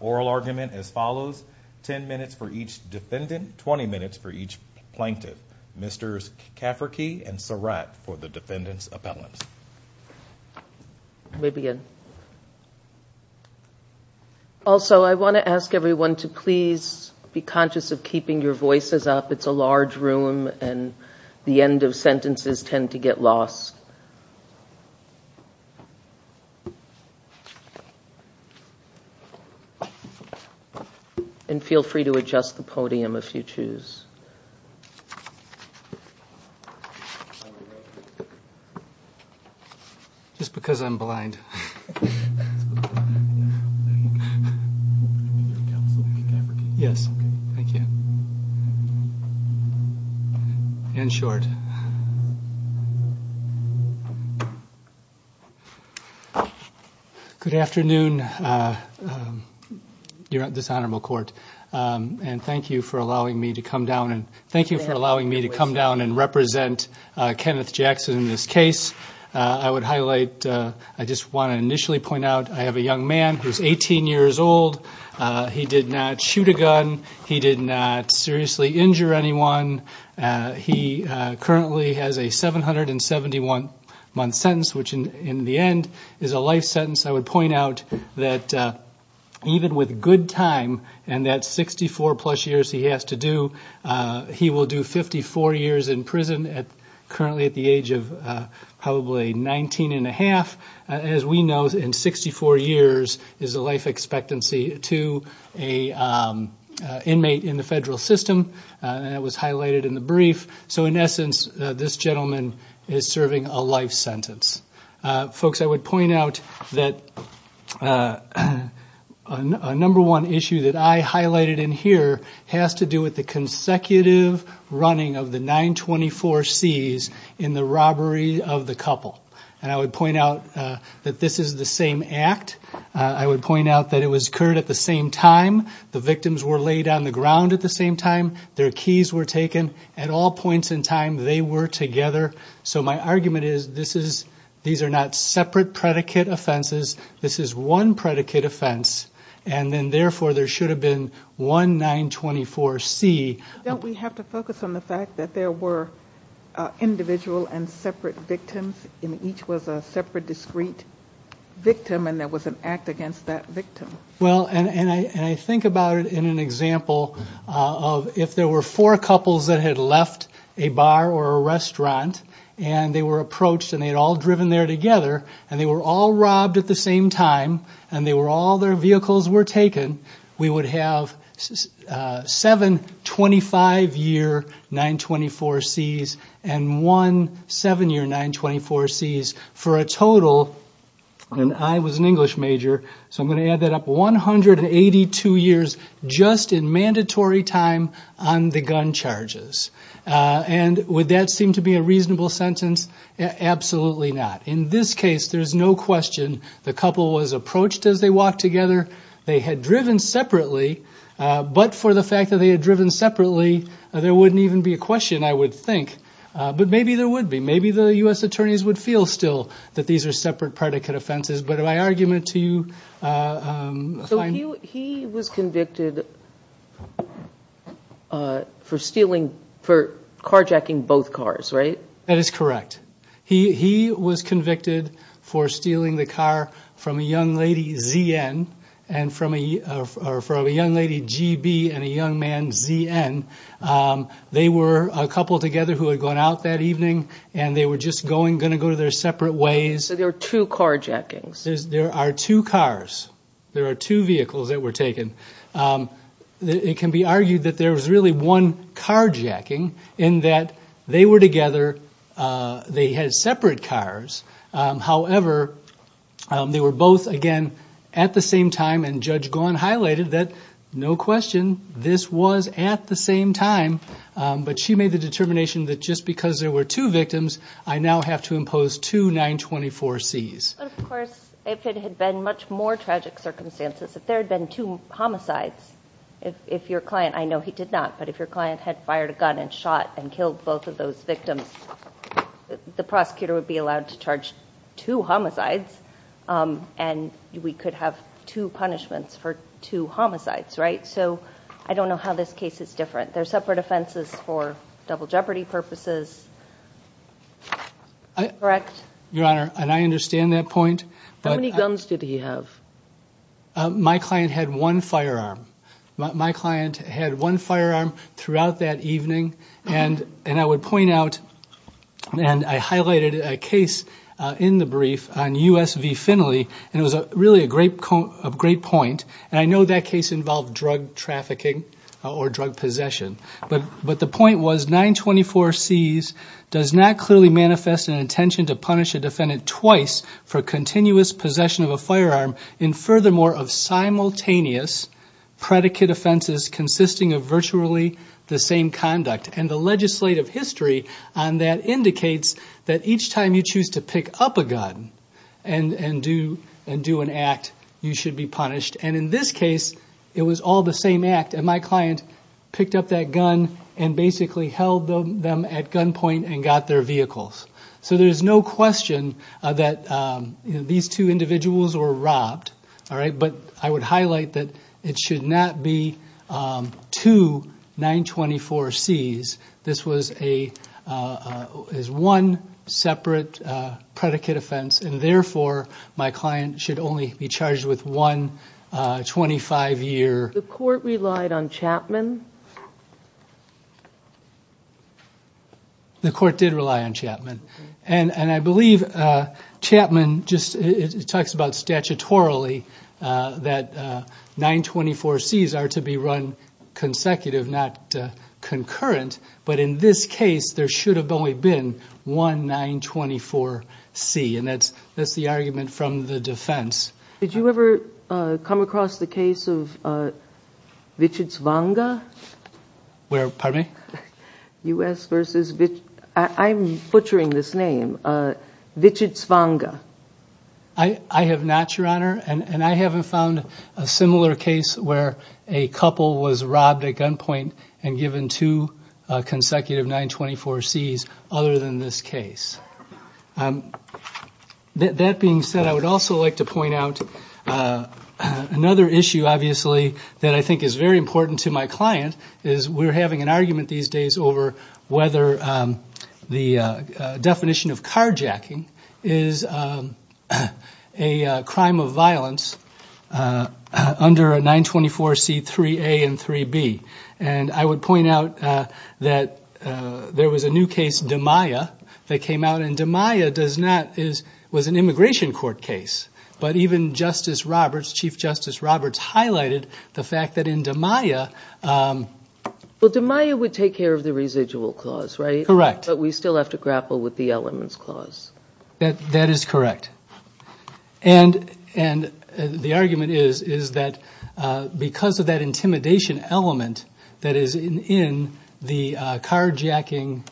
Oral argument as follows, 10 minutes for each defendant, 20 minutes for each plaintiff. Mr. Cafferkey and Surratt for the defendant's appellant. I want to ask everyone to please be conscious of keeping your voices up. It's a large room and the end of sentences tend to get lost. And feel free to adjust the podium if you choose. Just because I'm blind. Yes. Thank you. In short. Good afternoon. Thank you for allowing me to come down and represent Kenneth Jackson in this case. I would highlight, I just want to initially point out, I have a young man who is 18 years old. He did not shoot a gun. He did not seriously injure anyone. He currently has a 771-month sentence, which in the end is a life sentence. I would point out that even with good time and that 64-plus years he has to do, he will do 54 years in prison currently at the age of probably 19-1⁄2. As we know, in 64 years is a life expectancy to an inmate in the federal system. That was highlighted in the brief. So in essence, this gentleman is serving a life sentence. Folks, I would point out that a number one issue that I highlighted in here has to do with the consecutive running of the 924Cs in the robbery of the couple. And I would point out that this is the same act. I would point out that it was occurred at the same time. The victims were laid on the ground at the same time. Their keys were taken at all points in time. They were together. So my argument is these are not separate predicate offenses. This is one predicate offense. And then therefore there should have been one 924C. Don't we have to focus on the fact that there were individual and separate victims and each was a separate discrete victim and there was an act against that victim? Well, and I think about it in an example of if there were four couples that had left a bar or a restaurant and they were approached and they had all driven there together and they were all robbed at the same time and all their vehicles were taken, we would have seven 25-year 924Cs and one 7-year 924Cs for a total, and I was an English major, so I'm going to add that up, 182 years just in mandatory time on the gun charges. And would that seem to be a reasonable sentence? Absolutely not. In this case, there's no question the couple was approached as they walked together. They had driven separately, but for the fact that they had driven separately, there wouldn't even be a question, I would think. But maybe there would be. Maybe the U.S. attorneys would feel still that these are separate predicate offenses. But my argument to you is fine. So he was convicted for carjacking both cars, right? That is correct. He was convicted for stealing the car from a young lady, Z.N., or from a young lady, G.B., and a young man, Z.N. They were a couple together who had gone out that evening and they were just going to go their separate ways. So there were two carjackings. There are two cars. There are two vehicles that were taken. It can be argued that there was really one carjacking in that they were together. They had separate cars. However, they were both, again, at the same time, and Judge Gawne highlighted that, no question, this was at the same time. But she made the determination that just because there were two victims, I now have to impose two 924Cs. But, of course, if it had been much more tragic circumstances, if there had been two homicides, if your client, I know he did not, but if your client had fired a gun and shot and killed both of those victims, the prosecutor would be allowed to charge two homicides and we could have two punishments for two homicides, right? So I don't know how this case is different. There are separate offenses for double jeopardy purposes, correct? Your Honor, and I understand that point. How many guns did he have? My client had one firearm. My client had one firearm throughout that evening, and I would point out, and I highlighted a case in the brief on U.S. v. Finley, and it was really a great point, and I know that case involved drug trafficking or drug possession. But the point was 924Cs does not clearly manifest an intention to punish a defendant twice for continuous possession of a firearm in furthermore of simultaneous predicate offenses consisting of virtually the same conduct. And the legislative history on that indicates that each time you choose to pick up a gun and do an act, you should be punished. And in this case, it was all the same act, and my client picked up that gun and basically held them at gunpoint and got their vehicles. So there's no question that these two individuals were robbed, all right? But I would highlight that it should not be two 924Cs. This was one separate predicate offense, and therefore my client should only be charged with one 25-year. The court relied on Chapman? The court did rely on Chapman. And I believe Chapman just talks about statutorily that 924Cs are to be run consecutive, not concurrent. But in this case, there should have only been one 924C, and that's the argument from the defense. Did you ever come across the case of Wichitz-Vonga? Where, pardon me? U.S. versus Wichitz. I'm butchering this name. Wichitz-Vonga. I have not, Your Honor. And I haven't found a similar case where a couple was robbed at gunpoint and given two consecutive 924Cs other than this case. That being said, I would also like to point out another issue, obviously, that I think is very important to my client, is we're having an argument these days over whether the definition of carjacking is a crime of violence under a 924C 3A and 3B. And I would point out that there was a new case, DeMaia, that came out. And DeMaia was an immigration court case, but even Chief Justice Roberts highlighted the fact that in DeMaia ---- Well, DeMaia would take care of the residual clause, right? Correct. But we still have to grapple with the elements clause. That is correct. And the argument is that because of that intimidation element that is in the carjacking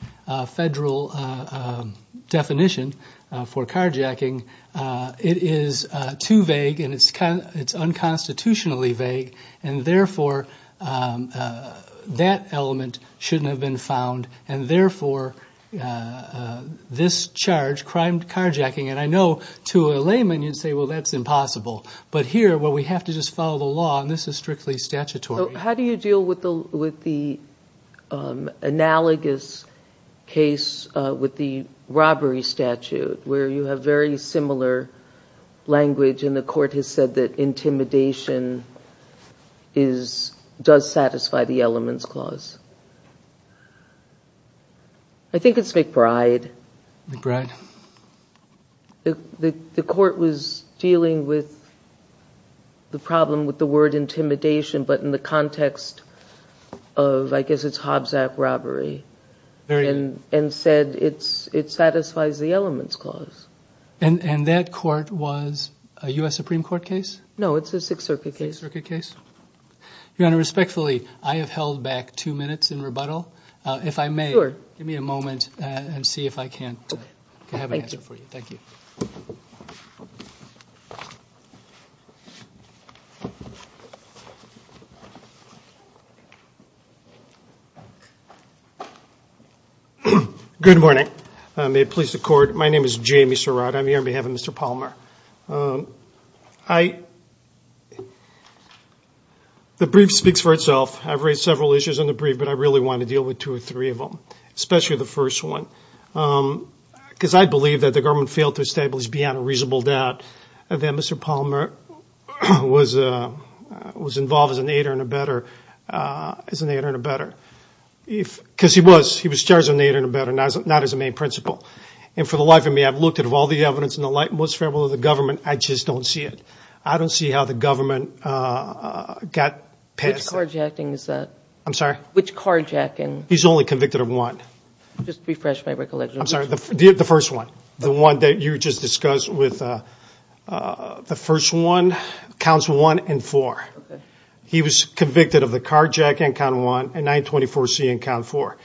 federal definition for carjacking, it is too vague and it's unconstitutionally vague, and therefore that element shouldn't have been found, and therefore this charge, crimed carjacking, and I know to a layman you'd say, well, that's impossible. But here, well, we have to just follow the law, and this is strictly statutory. How do you deal with the analogous case with the robbery statute, where you have very similar language, and the court has said that intimidation does satisfy the elements clause? I think it's McBride. McBride. The court was dealing with the problem with the word intimidation, but in the context of, I guess it's Hobbs Act robbery, and said it satisfies the elements clause. And that court was a U.S. Supreme Court case? No, it's a Sixth Circuit case. Sixth Circuit case. Your Honor, respectfully, I have held back two minutes in rebuttal. If I may, give me a moment and see if I can have an answer for you. Thank you. Good morning. May it please the Court, my name is Jamie Surratt. I'm here on behalf of Mr. Palmer. The brief speaks for itself. I've raised several issues in the brief, but I really want to deal with two or three of them, especially the first one. Because I believe that the government failed to establish, beyond a reasonable doubt, that Mr. Palmer was involved as an aider and abetter, because he was charged as an aider and abetter, not as a main principal. And for the life of me, I've looked at all the evidence in the light and most favorable of the government, I just don't see it. I don't see how the government got past it. Which carjacking is that? I'm sorry? Which carjacking? He's only convicted of one. Just refresh my recollection. I'm sorry, the first one, the one that you just discussed with the first one, counts one and four. Okay. He was convicted of the carjacking, count one, and 924C and count four.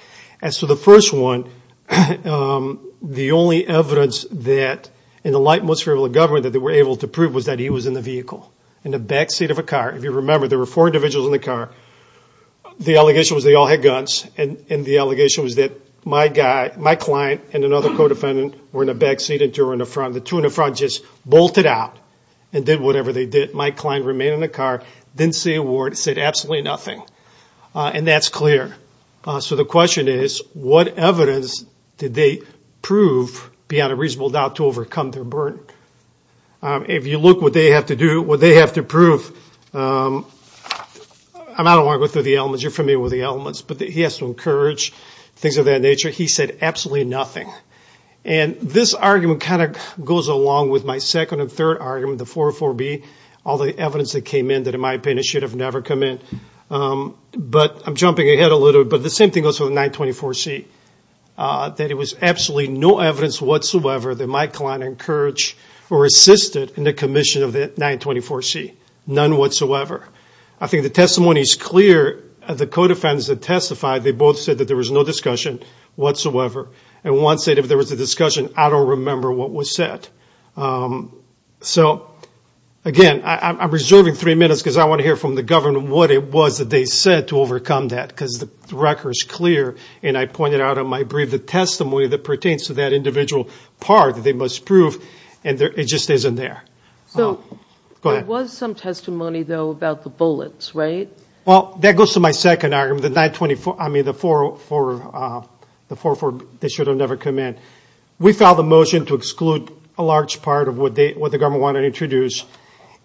As to the first one, the only evidence that, in the light and most favorable of the government, that they were able to prove was that he was in the vehicle, in the back seat of a car. If you remember, there were four individuals in the car. The allegation was they all had guns, and the allegation was that my client and another co-defendant were in the back seat and two were in the front. The two in the front just bolted out and did whatever they did. My client remained in the car, didn't say a word, said absolutely nothing. And that's clear. So the question is, what evidence did they prove beyond a reasonable doubt to overcome their burden? If you look at what they have to prove, I don't want to go through the elements, you're familiar with the elements, but he has to encourage things of that nature. He said absolutely nothing. And this argument kind of goes along with my second and third argument, the 404B, all the evidence that came in that, in my opinion, should have never come in. But I'm jumping ahead a little bit, but the same thing goes for the 924C, that it was absolutely no evidence whatsoever that my client encouraged or assisted in the commission of the 924C. None whatsoever. I think the testimony is clear. The co-defendants that testified, they both said that there was no discussion whatsoever. And one said, if there was a discussion, I don't remember what was said. So, again, I'm reserving three minutes because I want to hear from the government what it was that they said to overcome that, because the record is clear. And I pointed out in my brief the testimony that pertains to that individual part that they must prove. And it just isn't there. So, go ahead. There was some testimony, though, about the bullets, right? Well, that goes to my second argument, the 924, I mean, the 404, they should have never come in. We filed a motion to exclude a large part of what the government wanted to introduce.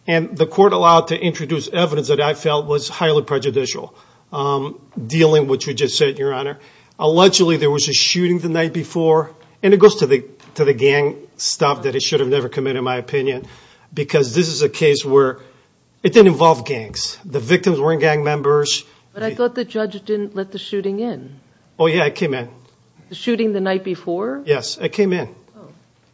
And the court allowed to introduce evidence that I felt was highly prejudicial, dealing with what you just said, Your Honor. Allegedly, there was a shooting the night before, and it goes to the gang stuff that it should have never come in, in my opinion, because this is a case where it didn't involve gangs. The victims weren't gang members. But I thought the judge didn't let the shooting in. Oh, yeah, it came in. The shooting the night before? Yes, it came in.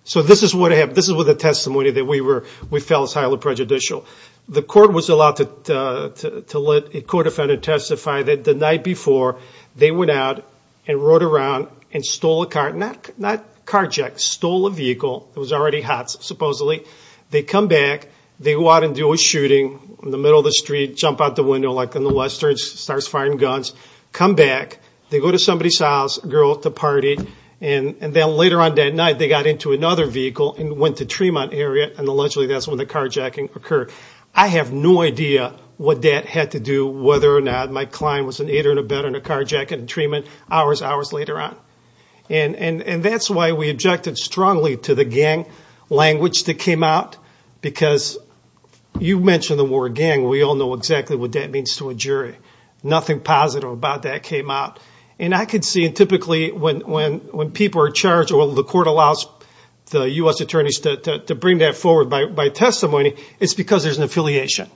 So, this is what I have. This is what the testimony that we felt was highly prejudicial. The court was allowed to let a court offender testify that the night before they went out and rode around and stole a car, not carjacked, stole a vehicle. It was already hot, supposedly. They come back. They go out and do a shooting in the middle of the street, jump out the window like in the westerns, starts firing guns, come back. They go to somebody's house, a girl at the party, and then later on that night, they got into another vehicle and went to the Tremont area, and allegedly that's when the carjacking occurred. I have no idea what that had to do, whether or not my client was an aider in a bed and a carjack in Tremont hours, hours later on. That's why we objected strongly to the gang language that came out, because you mentioned the word gang. We all know exactly what that means to a jury. Nothing positive about that came out. I could see, and typically when people are charged or the court allows the U.S. attorneys to bring that forward by testimony, it's because there's an affiliation.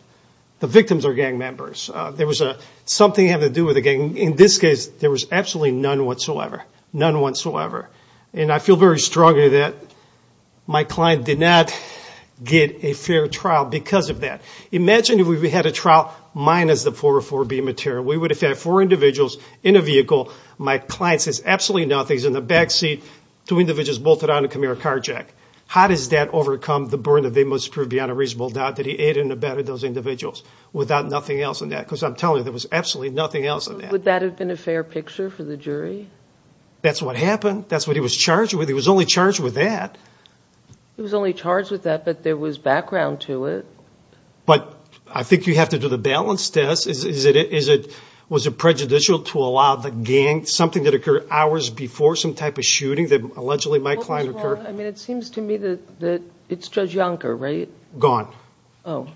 The victims are gang members. There was something to have to do with the gang. In this case, there was absolutely none whatsoever, none whatsoever. And I feel very strongly that my client did not get a fair trial because of that. Imagine if we had a trial minus the 404B material. We would have had four individuals in a vehicle. My client says absolutely nothing. He's in the back seat, two individuals bolted on a Camaro carjack. How does that overcome the burden that they must prove beyond a reasonable doubt that he aided and abetted those individuals without nothing else in that? Because I'm telling you, there was absolutely nothing else in that. Would that have been a fair picture for the jury? That's what happened. That's what he was charged with. He was only charged with that. He was only charged with that, but there was background to it. But I think you have to do the balance test. Was it prejudicial to allow the gang, something that occurred hours before some type of shooting that allegedly my client occurred? I mean, it seems to me that it's Judge Yonker, right? Gone. Oh.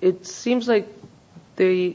It seems like there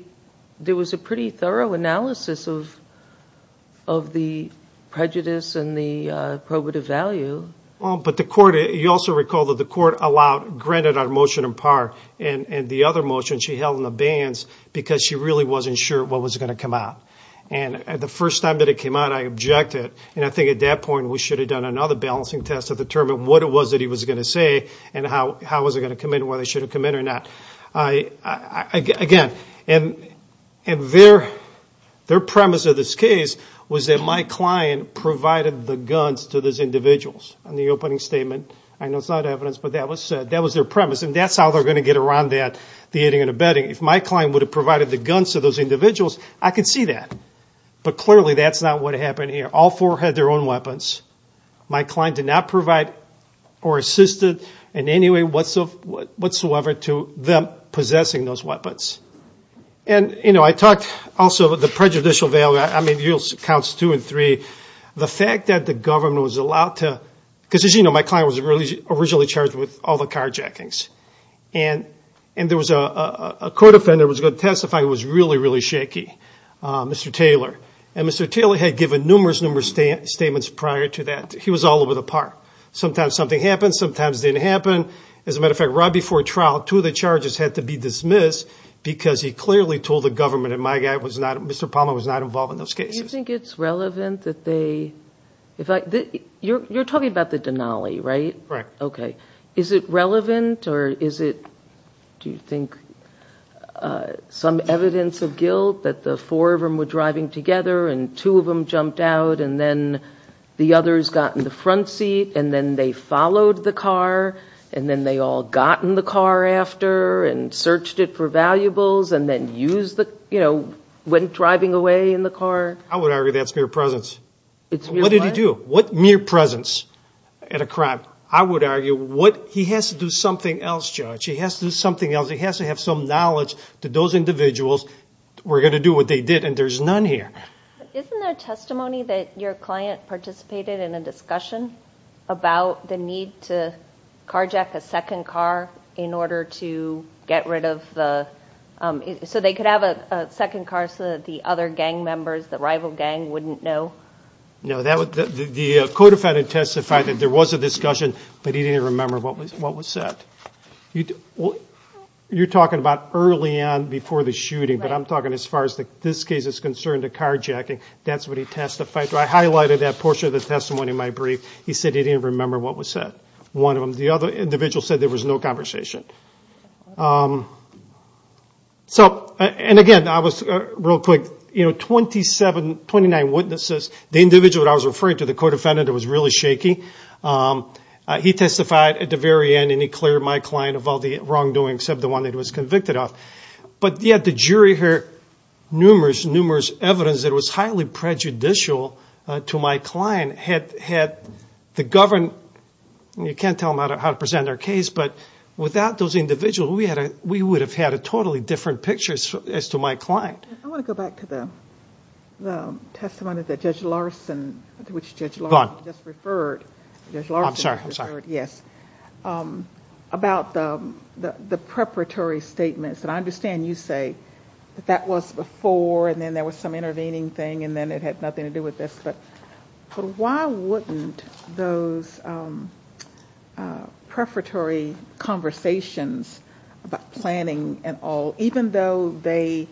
was a pretty thorough analysis of the prejudice and the probative value. Well, but the court, you also recall that the court allowed, granted our motion in part, and the other motion she held in the bans because she really wasn't sure what was going to come out. And the first time that it came out, I objected. And I think at that point, we should have done another balancing test to determine what it was that he was going to say and how, how was it going to come in, whether they should have come in or not. I, I, again, and, and their, their premise of this case was that my client provided the guns to those individuals on the opening statement. I know it's not evidence, but that was said, that was their premise. And that's how they're going to get around that, the eating and abetting. If my client would have provided the guns to those individuals, I could see that. But clearly that's not what happened here. All four had their own weapons. My client did not provide or assisted in any way whatsoever to them possessing those weapons. And, you know, I talked also about the prejudicial value. I mean, you'll count two and three. The fact that the government was allowed to, because as you know, my client was really originally charged with all the carjackings. And, and there was a, a, a court offender was going to testify. It was really, really shaky. Mr. Taylor. And Mr. Taylor had given numerous, numerous statements prior to that. He was all over the park. Sometimes something happens. Sometimes it didn't happen. As a matter of fact, right before trial, two of the charges had to be dismissed because he clearly told the government. And my guy was not, Mr. Palmer was not involved in those cases. It's relevant that they, if I, you're, you're talking about the Denali, right? Correct. Okay. Is it relevant or is it, do you think, some evidence of guilt that the four of them were driving together and two of them jumped out and then the others got in the front seat and then they followed the car and then they all got in the car after and searched it for valuables and then use the, you know, went driving away in the car. I would argue that's mere presence. It's what did he do? What mere presence at a crime? I would argue what he has to do something else. Judge, he has to do something else. He has to have some knowledge to those individuals. We're going to do what they did. And there's none here. Isn't there testimony that your client participated in a discussion about the need to carjack a second car in order to get rid of the, so they could have a second car so that the other gang members, the rival gang wouldn't know? No, that was the, the codefendant testified that there was a discussion, but he didn't remember what was, what was said. You're talking about early on before the shooting, but I'm talking as far as this case is concerned, the carjacking, that's what he testified to. I highlighted that portion of the testimony in my brief. He said he didn't remember what was said. One of them, the other individual said there was no conversation. So, and again, I was real quick, you know, 27, 29 witnesses, the individual that I was referring to, the codefendant, it was really shaky. He testified at the very end and he cleared my client of all the wrongdoing, except the one that he was convicted of. But yet, the jury heard numerous, numerous evidence that was highly prejudicial to my client. Had the government, you can't tell them how to present their case, but without those individuals, we would have had a totally different picture as to my client. I want to go back to the testimony that Judge Larson, which Judge Larson just referred. I'm sorry, I'm sorry. Yes. About the preparatory statements, and I understand you say that that was before, and then there was some intervening thing, and then it had nothing to do with this, but why wouldn't those preparatory conversations about planning and all, even though they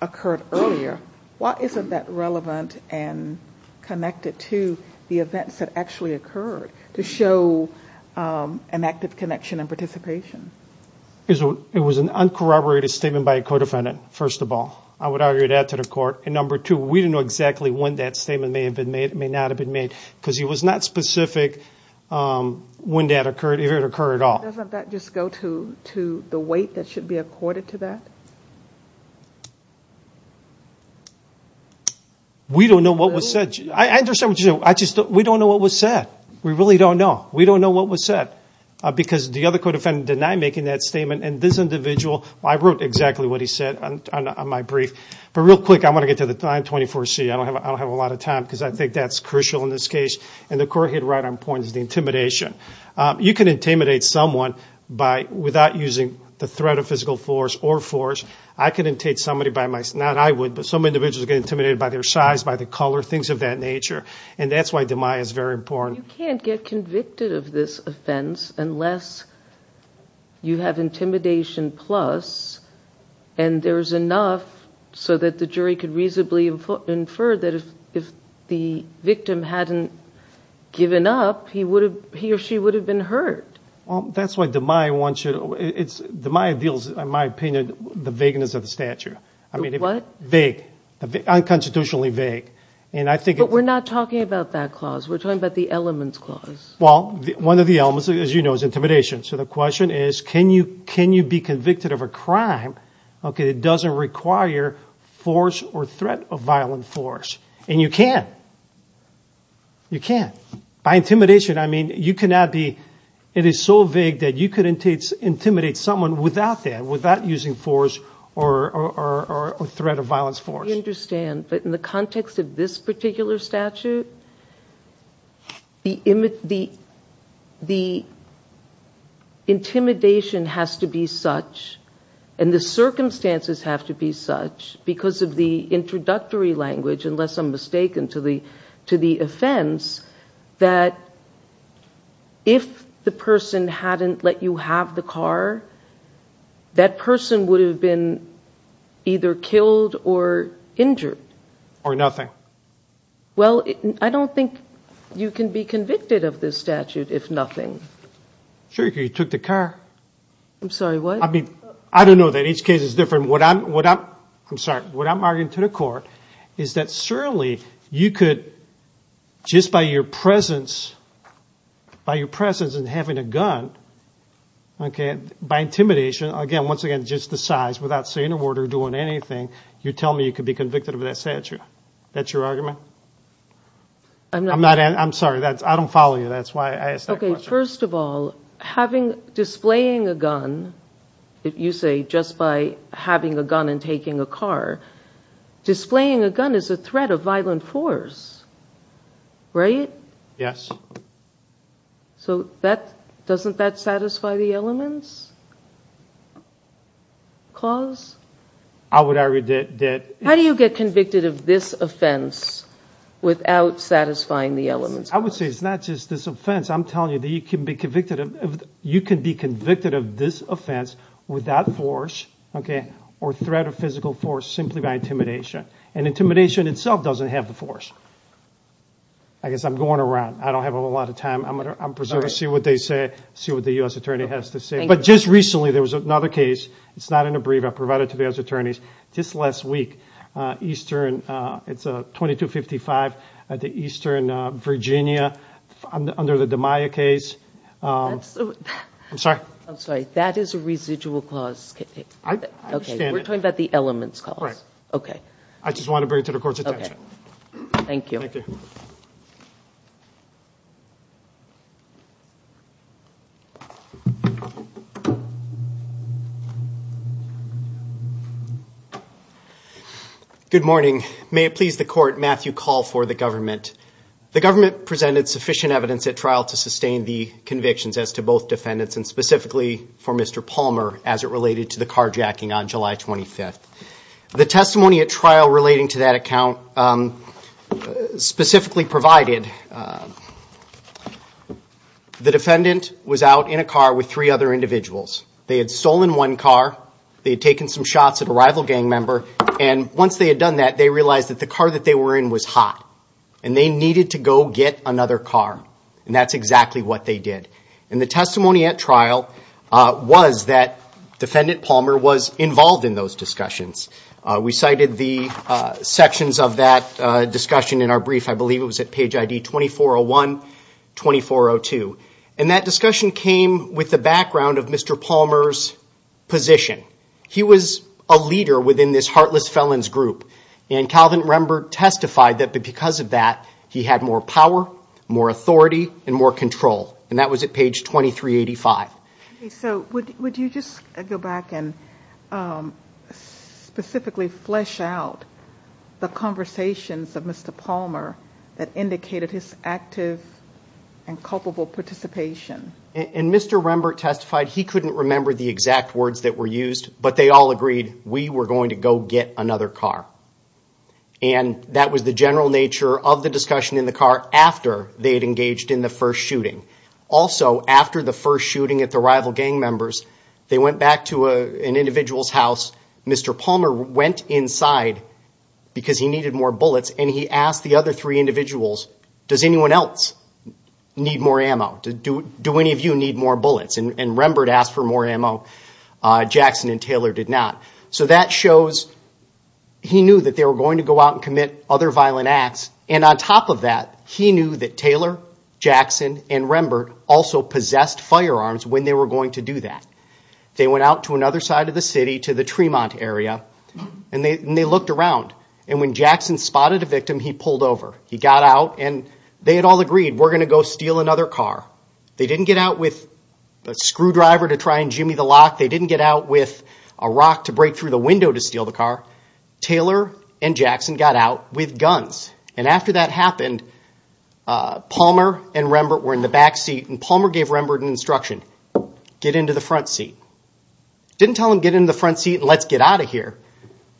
occurred earlier, why isn't that relevant and connected to the events that actually occurred, to show an active connection and participation? It was an uncorroborated statement by a co-defendant, first of all. I would argue that to the court. And number two, we didn't know exactly when that statement may have been made, may not have been made, because he was not specific when that occurred, if it occurred at all. Doesn't that just go to the weight that should be accorded to that? We don't know what was said. I understand what you're saying. We don't know what was said. We really don't know. We don't know what was said, because the other co-defendant denied making that statement, and this individual, I wrote exactly what he said on my brief. But real quick, I want to get to the 924C. I don't have a lot of time, because I think that's crucial in this case, and the court hit right on point is the intimidation. You can intimidate someone without using the threat of physical force or force. I can intimidate somebody by my, not I would, but some individuals get intimidated by their size, by their color, things of that nature, and that's why demise is very important. You can't get convicted of this offense unless you have intimidation plus, and there's enough so that the jury could reasonably infer that if the victim hadn't given up, he or she would have been hurt. That's why demise wants you to, demise deals, in my opinion, with the vagueness of the statute. What? Vague. Unconstitutionally vague. But we're not talking about that clause. We're talking about the elements clause. Well, one of the elements, as you know, is intimidation. So the question is, can you be convicted of a crime that doesn't require force or threat of violent force? And you can. You can. By intimidation, I mean, you cannot be, it is so vague that you could intimidate someone without that, without using force or threat of violence force. I understand, but in the context of this particular statute, the intimidation has to be such, and the circumstances have to be such, because of the introductory language, unless I'm mistaken to the offense, that if the person hadn't let you have the car, that person would have been either killed or injured. Or nothing. Well, I don't think you can be convicted of this statute if nothing. Sure, you could. You took the car. I'm sorry, what? I mean, I don't know that. Each case is different. just by your presence, by your presence and having a gun, by intimidation, again, once again, just the size, without saying a word or doing anything, you tell me you could be convicted of that statute. That's your argument? I'm sorry, I don't follow you. That's why I asked that question. Okay, first of all, having, displaying a gun, if you say just by having a gun and taking a car, displaying a gun is a threat of violent force, right? Yes. So that, doesn't that satisfy the elements? Cause? I would argue that. How do you get convicted of this offense without satisfying the elements? I would say it's not just this offense. I'm telling you that you can be convicted of, you can be convicted of this offense without force. Okay. Or threat of physical force, simply by intimidation and intimidation itself doesn't have the force. I guess I'm going around. I don't have a lot of time. I'm going to, I'm preserved to see what they say, see what the U.S. attorney has to say. But just recently, there was another case. It's not in a brief. I provided it to the U.S. attorneys just last week. Eastern, it's a 2255 at the Eastern Virginia under the Damiah case. I'm sorry. I'm sorry. That is a residual clause. Okay. We're talking about the elements cause. Right. Okay. I just want to bring it to the court's attention. Okay. Thank you. Thank you. Good morning. May it please the court. Matthew call for the government. The government presented sufficient evidence at trial to sustain the convictions as to both defendants and specifically for Mr. Palmer, as it related to the carjacking on July 25th. The testimony at trial relating to that account specifically provided the defendant was out in a car with three other individuals. They had stolen one car. They had taken some shots at a rival gang member. And once they had done that, they realized that the car that they were in was hot and they needed to go get another car. And that's exactly what they did. And the testimony at trial was that defendant Palmer was involved in those discussions. We cited the sections of that discussion in our brief. I believe it was at page ID 2401, 2402. And that discussion came with the background of Mr. Palmer's position. He was a leader within this heartless felons group. And Calvin Rembrandt testified that because of that, he had more power, more authority, and more control. And that was at page 2385. So would you just go back and specifically flesh out the conversations of Mr. Palmer that indicated his active and culpable participation? And Mr. Rembrandt testified he couldn't remember the exact words that were used, but they all agreed we were going to go get another car. And that was the general nature of the discussion in the car after they had engaged in the first shooting. Also, after the first shooting at the rival gang members, they went back to an individual's house. Mr. Palmer went inside because he needed more bullets, and he asked the other three individuals, does anyone else need more ammo? Do any of you need more bullets? And Rembrandt asked for more ammo. Jackson and Taylor did not. So that shows he knew that they were going to go out and commit other violent acts. And on top of that, he knew that Taylor, Jackson, and Rembrandt also possessed firearms when they were going to do that. They went out to another side of the city, to the Tremont area, and they looked around. And when Jackson spotted a victim, he pulled over. He got out, and they had all agreed, we're going to go steal another car. They didn't get out with a screwdriver to try and jimmy the lock. They didn't get out with a rock to break through the window to steal the car. Taylor and Jackson got out with guns. And after that happened, Palmer and Rembrandt were in the back seat, and Palmer gave Rembrandt an instruction, get into the front seat. Didn't tell him, get into the front seat and let's get out of here.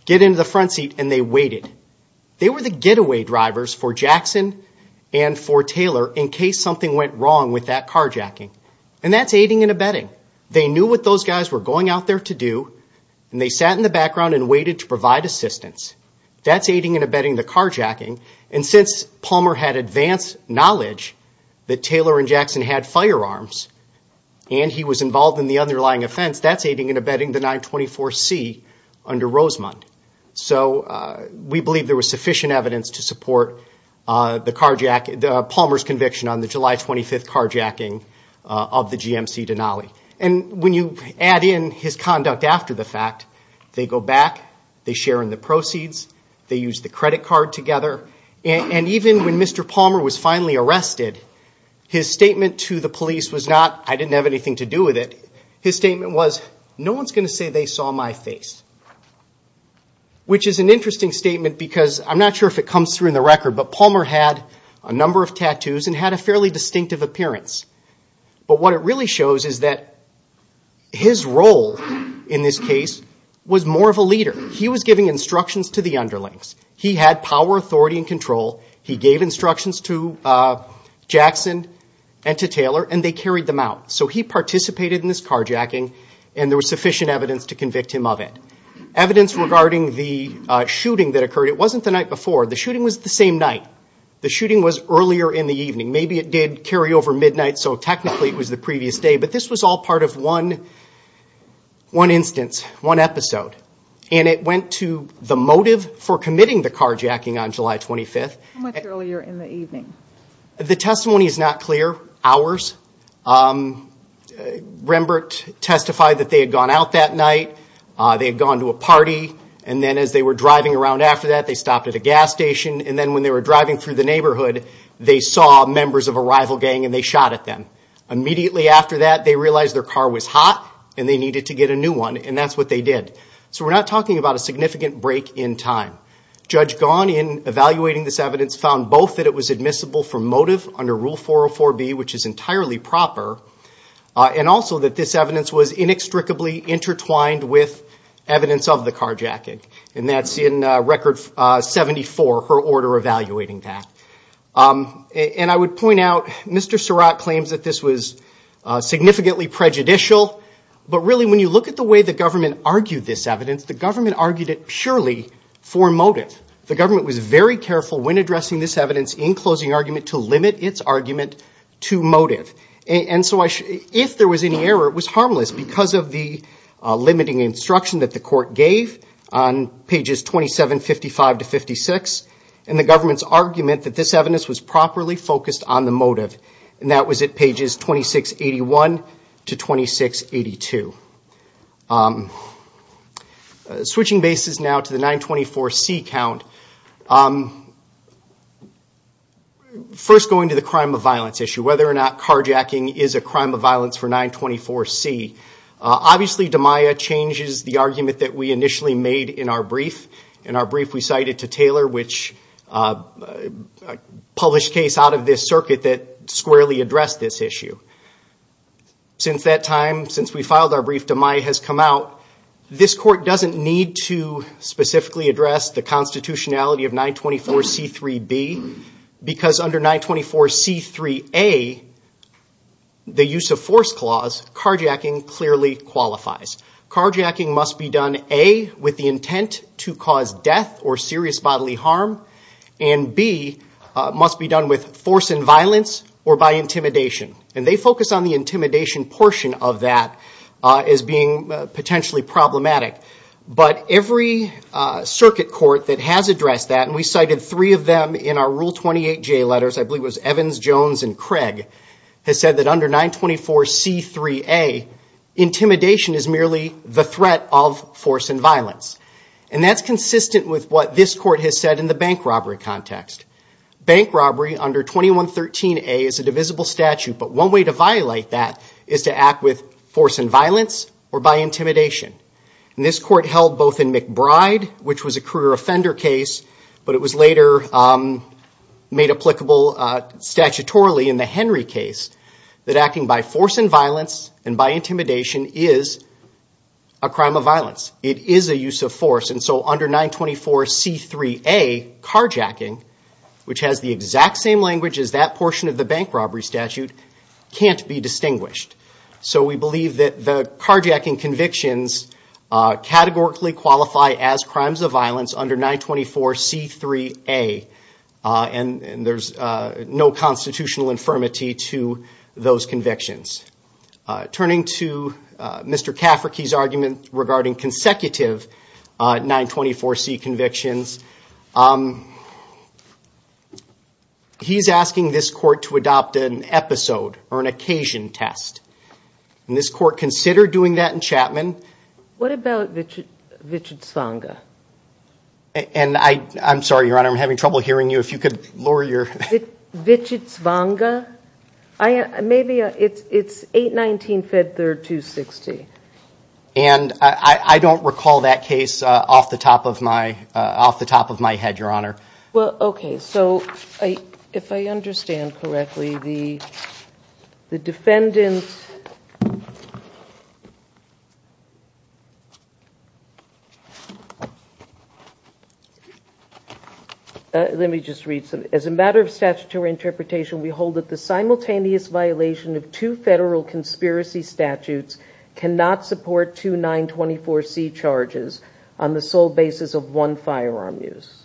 Get into the front seat, and they waited. They were the getaway drivers for Jackson and for Taylor in case something went wrong with that carjacking. And that's aiding and abetting. They knew what those guys were going out there to do, and they sat in the background and waited to provide assistance. That's aiding and abetting the carjacking. And since Palmer had advanced knowledge that Taylor and Jackson had firearms, and he was involved in the underlying offense, that's aiding and abetting the 924C under Rosemond. So we believe there was sufficient evidence to support Palmer's conviction on the July 25th carjacking of the GMC Denali. And when you add in his conduct after the fact, they go back, they share in the proceeds, they use the credit card together. And even when Mr. Palmer was finally arrested, his statement to the police was not, which is an interesting statement because I'm not sure if it comes through in the record, but Palmer had a number of tattoos and had a fairly distinctive appearance. But what it really shows is that his role in this case was more of a leader. He was giving instructions to the underlings. He had power, authority, and control. He gave instructions to Jackson and to Taylor, and they carried them out. So he participated in this carjacking, and there was sufficient evidence to convict him of it. Evidence regarding the shooting that occurred. It wasn't the night before. The shooting was the same night. The shooting was earlier in the evening. Maybe it did carry over midnight, so technically it was the previous day. But this was all part of one instance, one episode. And it went to the motive for committing the carjacking on July 25th. How much earlier in the evening? The testimony is not clear. Hours. Rembrandt testified that they had gone out that night. They had gone to a party, and then as they were driving around after that, they stopped at a gas station. And then when they were driving through the neighborhood, they saw members of a rival gang and they shot at them. Immediately after that, they realized their car was hot, and they needed to get a new one, and that's what they did. So we're not talking about a significant break in time. Judge Gaughan, in evaluating this evidence, found both that it was admissible for motive under Rule 404B, which is entirely proper, and also that this evidence was inextricably intertwined with evidence of the carjacking. And that's in Record 74, her order evaluating that. And I would point out Mr. Surratt claims that this was significantly prejudicial, but really when you look at the way the government argued this evidence, the government argued it surely for motive. The government was very careful when addressing this evidence in closing argument to limit its argument to motive. And so if there was any error, it was harmless, because of the limiting instruction that the court gave on pages 2755 to 56, and the government's argument that this evidence was properly focused on the motive. And that was at pages 2681 to 2682. Switching bases now to the 924C count, first going to the crime of violence issue, whether or not carjacking is a crime of violence for 924C. Obviously, DeMaia changes the argument that we initially made in our brief. In our brief, we cited to Taylor, which published case out of this circuit that squarely addressed this issue. Since that time, since we filed our brief, DeMaia has come out. This court doesn't need to specifically address the constitutionality of 924C3B, because under 924C3A, the use of force clause, carjacking clearly qualifies. Carjacking must be done, A, with the intent to cause death or serious bodily harm, and B, must be done with force and violence or by intimidation. And they focus on the intimidation portion of that as being potentially problematic. But every circuit court that has addressed that, and we cited three of them in our Rule 28J letters, I believe it was Evans, Jones, and Craig, has said that under 924C3A, intimidation is merely the threat of force and violence. And that's consistent with what this court has said in the bank robbery context. Bank robbery under 2113A is a divisible statute, but one way to violate that is to act with force and violence or by intimidation. And this court held both in McBride, which was a career offender case, but it was later made applicable statutorily in the Henry case, that acting by force and violence and by intimidation is a crime of violence. It is a use of force. And so under 924C3A, carjacking, which has the exact same language as that portion of the bank robbery statute, can't be distinguished. So we believe that the carjacking convictions categorically qualify as crimes of violence under 924C3A. And there's no constitutional infirmity to those convictions. Turning to Mr. Cafferkey's argument regarding consecutive 924C convictions, he's asking this court to adopt an episode or an occasion test. And this court considered doing that in Chapman. What about Wichitz-Vonga? And I'm sorry, Your Honor, I'm having trouble hearing you. If you could lower your... Wichitz-Vonga? Maybe it's 819F3-260. And I don't recall that case off the top of my head, Your Honor. Well, okay. So if I understand correctly, the defendant... Let me just read some. As a matter of statutory interpretation, we hold that the simultaneous violation of two federal conspiracy statutes cannot support two 924C charges on the sole basis of one firearm use.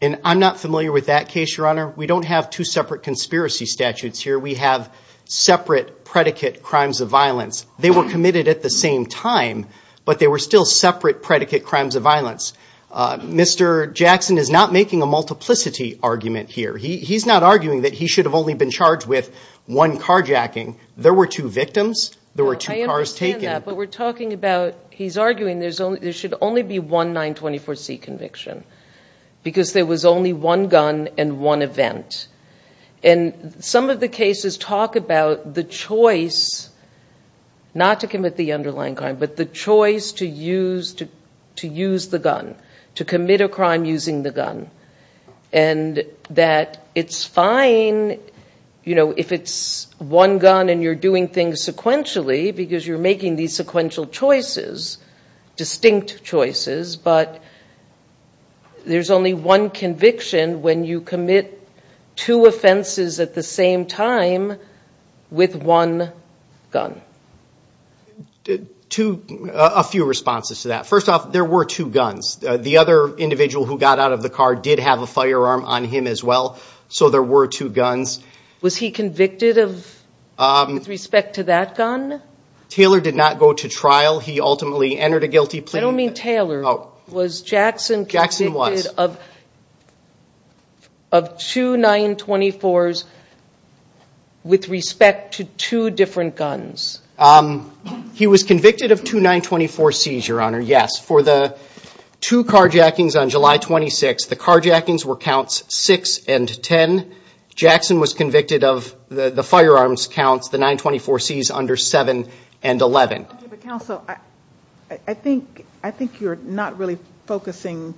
And I'm not familiar with that case, Your Honor. We don't have two separate conspiracy statutes here. We have separate predicate crimes of violence. They were committed at the same time, but they were still separate predicate crimes of violence. Mr. Jackson is not making a multiplicity argument here. He's not arguing that he should have only been charged with one carjacking. There were two victims. There were two cars taken. I understand that, but we're talking about... He's arguing there should only be one 924C conviction because there was only one gun and one event. And some of the cases talk about the choice not to commit the underlying crime, but the choice to use the gun, to commit a crime using the gun, and that it's fine if it's one gun and you're doing things sequentially because you're making these sequential choices, distinct choices, but there's only one conviction when you commit two offenses at the same time with one gun. A few responses to that. First off, there were two guns. The other individual who got out of the car did have a firearm on him as well, so there were two guns. Was he convicted with respect to that gun? Taylor did not go to trial. He ultimately entered a guilty plea. I don't mean Taylor. Was Jackson convicted of two 924s with respect to two different guns? He was convicted of two 924Cs, Your Honor, yes. For the two carjackings on July 26th, the carjackings were counts 6 and 10. Jackson was convicted of the firearms counts, the 924Cs under 7 and 11. Counsel, I think you're not really focusing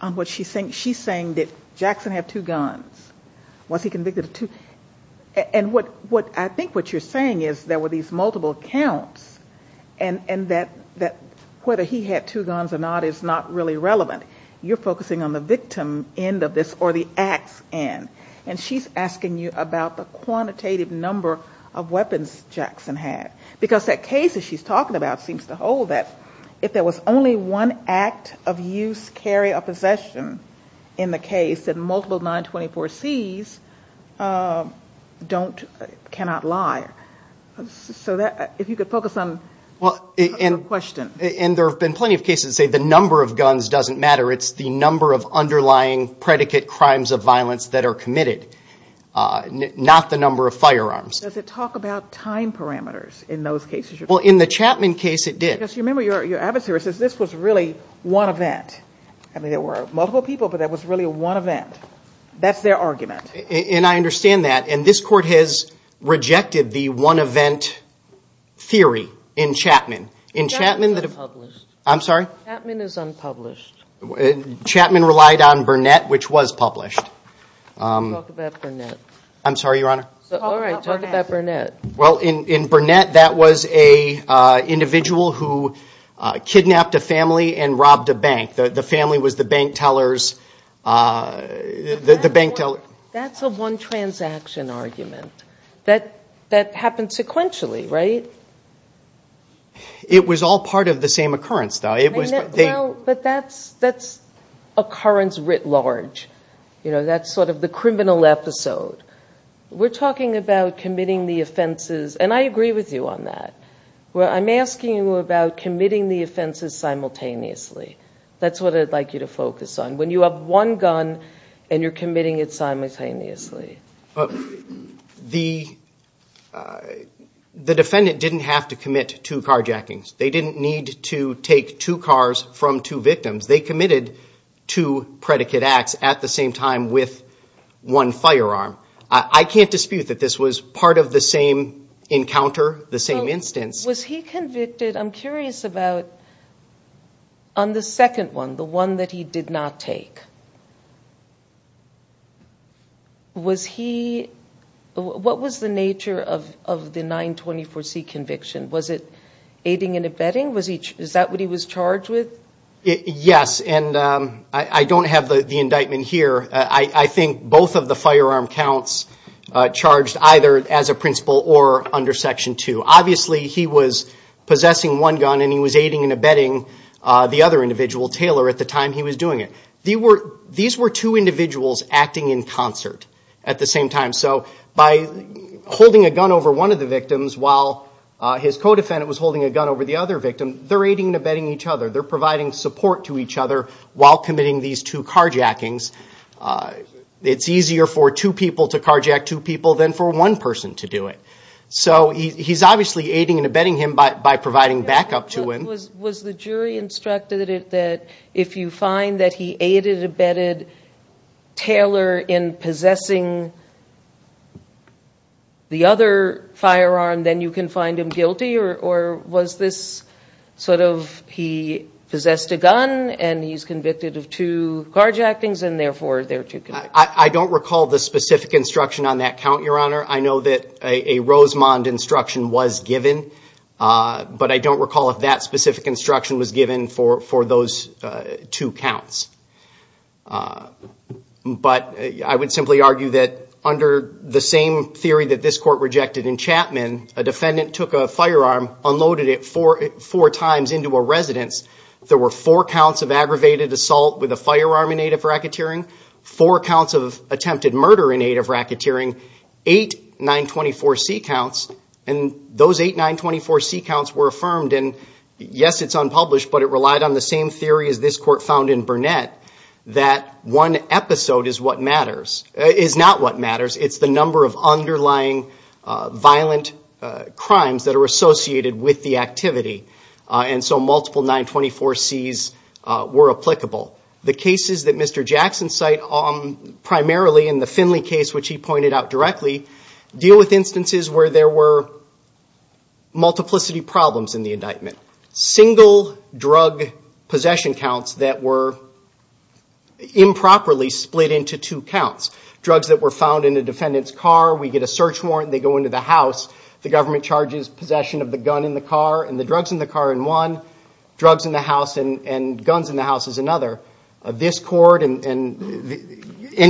on what she's saying. She's saying that Jackson had two guns. Was he convicted of two? I think what you're saying is there were these multiple counts and that whether he had two guns or not is not really relevant. You're focusing on the victim end of this or the acts end, and she's asking you about the quantitative number of weapons Jackson had because that case that she's talking about seems to hold that if there was only one act of use, carry, or possession in the case, that multiple 924Cs cannot lie. If you could focus on the question. There have been plenty of cases that say the number of guns doesn't matter. It's the number of underlying predicate crimes of violence that are committed, not the number of firearms. Does it talk about time parameters in those cases? In the Chapman case, it did. You remember your adversary says this was really one event. There were multiple people, but that was really one event. That's their argument. I understand that. This court has rejected the one event theory in Chapman. Chapman is unpublished. I'm sorry? Chapman is unpublished. Chapman relied on Burnett, which was published. Talk about Burnett. I'm sorry, Your Honor? Talk about Burnett. In Burnett, that was an individual who kidnapped a family and robbed a bank. The family was the bank teller's. That's a one-transaction argument. That happened sequentially, right? It was all part of the same occurrence, though. That's occurrence writ large. That's sort of the criminal episode. We're talking about committing the offenses, and I agree with you on that. I'm asking you about committing the offenses simultaneously. That's what I'd like you to focus on. When you have one gun and you're committing it simultaneously. The defendant didn't have to commit two carjackings. They didn't need to take two cars from two victims. They committed two predicate acts at the same time with one firearm. I can't dispute that this was part of the same encounter, the same instance. Was he convicted? I'm curious about on the second one, the one that he did not take. What was the nature of the 924C conviction? Was it aiding and abetting? Is that what he was charged with? Yes, and I don't have the indictment here. I think both of the firearm counts charged either as a principal or under Section 2. Obviously, he was possessing one gun and he was aiding and abetting the other individual, Taylor, at the time he was doing it. These were two individuals acting in concert at the same time. By holding a gun over one of the victims while his co-defendant was holding a gun over the other victim, they're aiding and abetting each other. They're providing support to each other while committing these two carjackings. It's easier for two people to carjack two people than for one person to do it. He's obviously aiding and abetting him by providing backup to him. Was the jury instructed that if you find that he aided and abetted Taylor in possessing the other firearm, then you can find him guilty, or was this sort of he possessed a gun and he's convicted of two carjackings, and therefore they're two convictions? I don't recall the specific instruction on that count, Your Honor. I know that a Rosemond instruction was given, but I don't recall if that specific instruction was given for those two counts. But I would simply argue that under the same theory that this court rejected in Chapman, a defendant took a firearm, unloaded it four times into a residence. There were four counts of aggravated assault with a firearm in aid of racketeering, four counts of attempted murder in aid of racketeering, eight 924C counts, and those eight 924C counts were affirmed. And yes, it's unpublished, but it relied on the same theory as this court found in Burnett, that one episode is what matters, is not what matters, it's the number of underlying violent crimes that are associated with the activity. And so multiple 924Cs were applicable. The cases that Mr. Jackson cite, primarily in the Finley case, which he pointed out directly, deal with instances where there were multiplicity problems in the indictment. Single drug possession counts that were improperly split into two counts. Drugs that were found in a defendant's car, we get a search warrant, they go into the house, the government charges possession of the gun in the car and the drugs in the car in one, drugs in the house and guns in the house is another. This court, any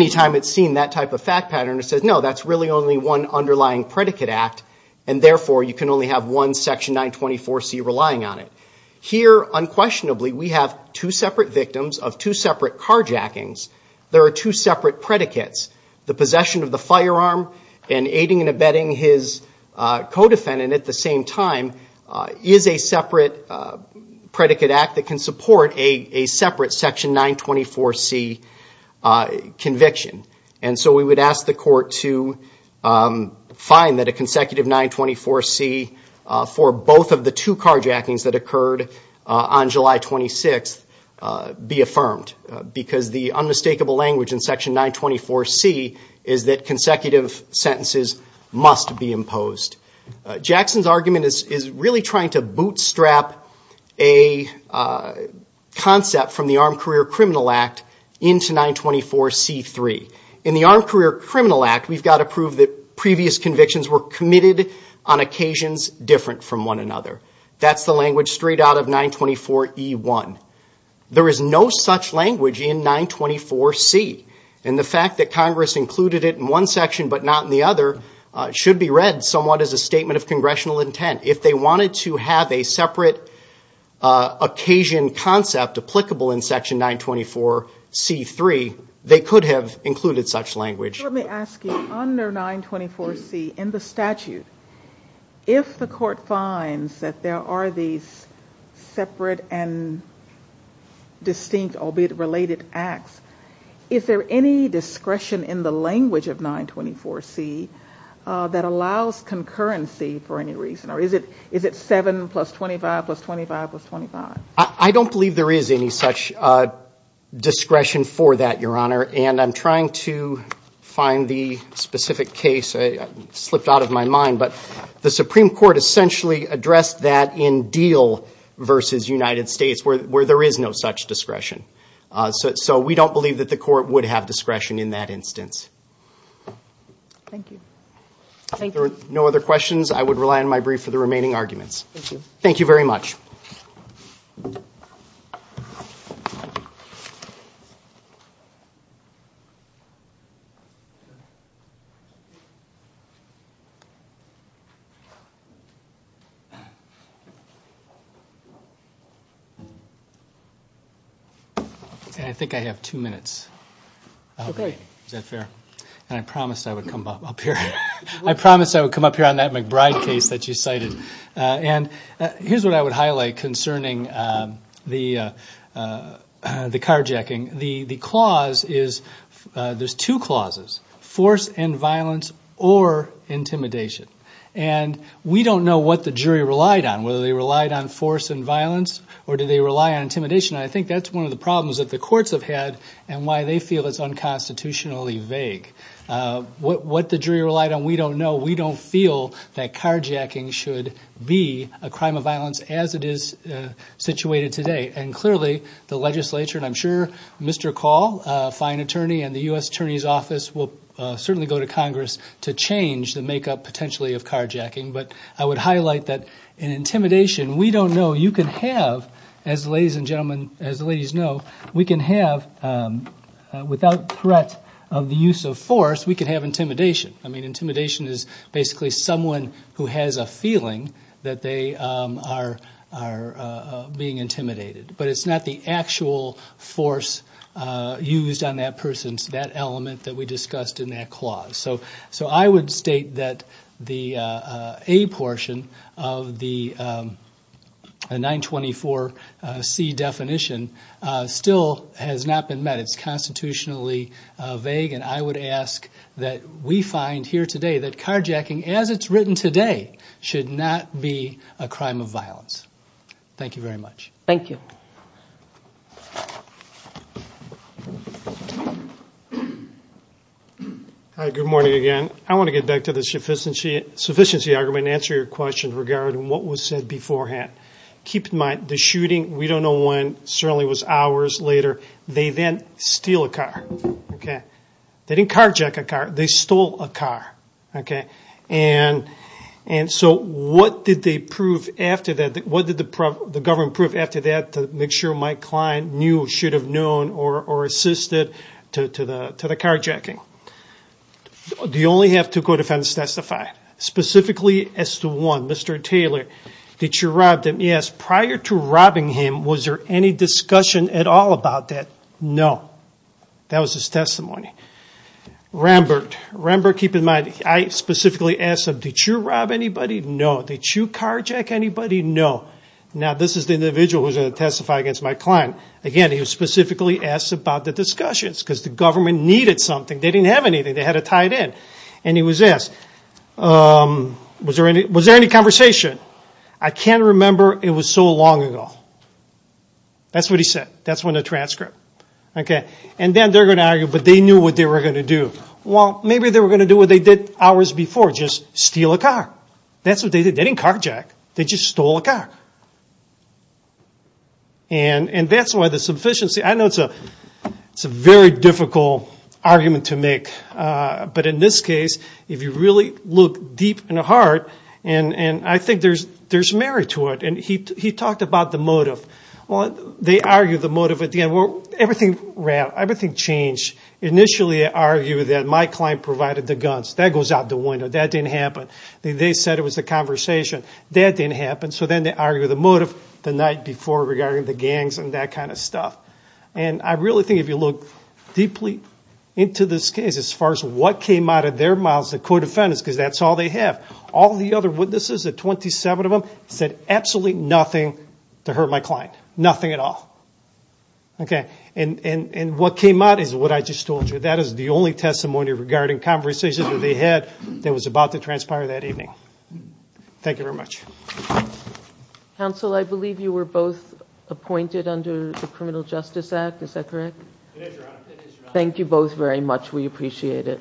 time it's seen that type of fact pattern, it says no, that's really only one underlying predicate act, and therefore you can only have one section 924C relying on it. Here, unquestionably, we have two separate victims of two separate carjackings. There are two separate predicates. The possession of the firearm and aiding and abetting his co-defendant at the same time is a separate predicate act that can support a separate section 924C conviction. And so we would ask the court to find that a consecutive 924C for both of the two carjackings that occurred on July 26th be affirmed, because the unmistakable language in section 924C is that consecutive sentences must be imposed. Jackson's argument is really trying to bootstrap a concept from the Armed Career Criminal Act into 924C3. In the Armed Career Criminal Act, we've got to prove that previous convictions were committed on occasions different from one another. That's the language straight out of 924E1. There is no such language in 924C, and the fact that Congress included it in one section but not in the other should be read somewhat as a statement of congressional intent. If they wanted to have a separate occasion concept applicable in section 924C3, they could have included such language. Let me ask you, under 924C in the statute, if the court finds that there are these separate and distinct, albeit related, acts, is there any discretion in the language of 924C that allows concurrency for any reason, or is it 7 plus 25 plus 25 plus 25? I don't believe there is any such discretion for that, Your Honor, and I'm trying to find the specific case that slipped out of my mind, but the Supreme Court essentially addressed that in Deal v. United States, where there is no such discretion. So we don't believe that the court would have discretion in that instance. Thank you. If there are no other questions, I would rely on my brief for the remaining arguments. Thank you. Thank you very much. I think I have two minutes. Okay. Is that fair? I promised I would come up here. I promised I would come up here on that McBride case that you cited. Here's what I would highlight concerning the carjacking. The clause is, there's two clauses, force and violence or intimidation. We don't know what the jury relied on, whether they relied on force and violence or did they rely on intimidation. I think that's one of the problems that the courts have had and why they feel it's unconstitutionally vague. What the jury relied on, we don't know. We don't feel that carjacking should be a crime of violence as it is situated today. And clearly, the legislature, and I'm sure Mr. Call, a fine attorney, and the U.S. Attorney's Office will certainly go to Congress to change the makeup potentially of carjacking. But I would highlight that in intimidation, we don't know. You can have, as ladies and gentlemen, as the ladies know, we can have, without threat of the use of force, we can have intimidation. Intimidation is basically someone who has a feeling that they are being intimidated. But it's not the actual force used on that person, that element that we discussed in that clause. So I would state that the A portion of the 924C definition still has not been met. It's constitutionally vague, and I would ask that we find here today that carjacking, as it's written today, should not be a crime of violence. Thank you very much. Thank you. Hi, good morning again. I want to get back to the sufficiency argument and answer your question regarding what was said beforehand. Keep in mind, the shooting, we don't know when, certainly was hours later. They then steal a car. They didn't carjack a car. They stole a car. And so what did they prove after that? What did the government prove after that to make sure Mike Kline knew, should have known, or assisted to the carjacking? Do you only have two co-defendants testify? Specifically, as to one, Mr. Taylor, did you rob him? Yes. Prior to robbing him, was there any discussion at all about that? No. That was his testimony. Rembert, keep in mind, I specifically asked him, did you rob anybody? No. Did you carjack anybody? No. Now, this is the individual who's going to testify against Mike Kline. Again, he specifically asked about the discussions because the government needed something. They didn't have anything. They had to tie it in. And he was asked, was there any conversation? I can't remember. It was so long ago. That's what he said. That's when the transcript. And then they're going to argue, but they knew what they were going to do. Well, maybe they were going to do what they did hours before, just steal a car. That's what they did. They didn't carjack. They just stole a car. And that's why the sufficiency. I know it's a very difficult argument to make. But in this case, if you really look deep in the heart, and I think there's merit to it. He talked about the motive. They argued the motive at the end. Everything changed. Initially, they argued that Mike Kline provided the guns. That goes out the window. That didn't happen. They said it was a conversation. That didn't happen. So then they argued the motive the night before regarding the gangs and that kind of stuff. And I really think if you look deeply into this case, as far as what came out of their mouths, the co-defendants, because that's all they have. All the other witnesses, the 27 of them, said absolutely nothing to hurt my client. Nothing at all. And what came out is what I just told you. That is the only testimony regarding conversations that they had that was about to transpire that evening. Thank you very much. Counsel, I believe you were both appointed under the Criminal Justice Act. Is that correct? It is, Your Honor. Thank you both very much. We appreciate it. Thank you.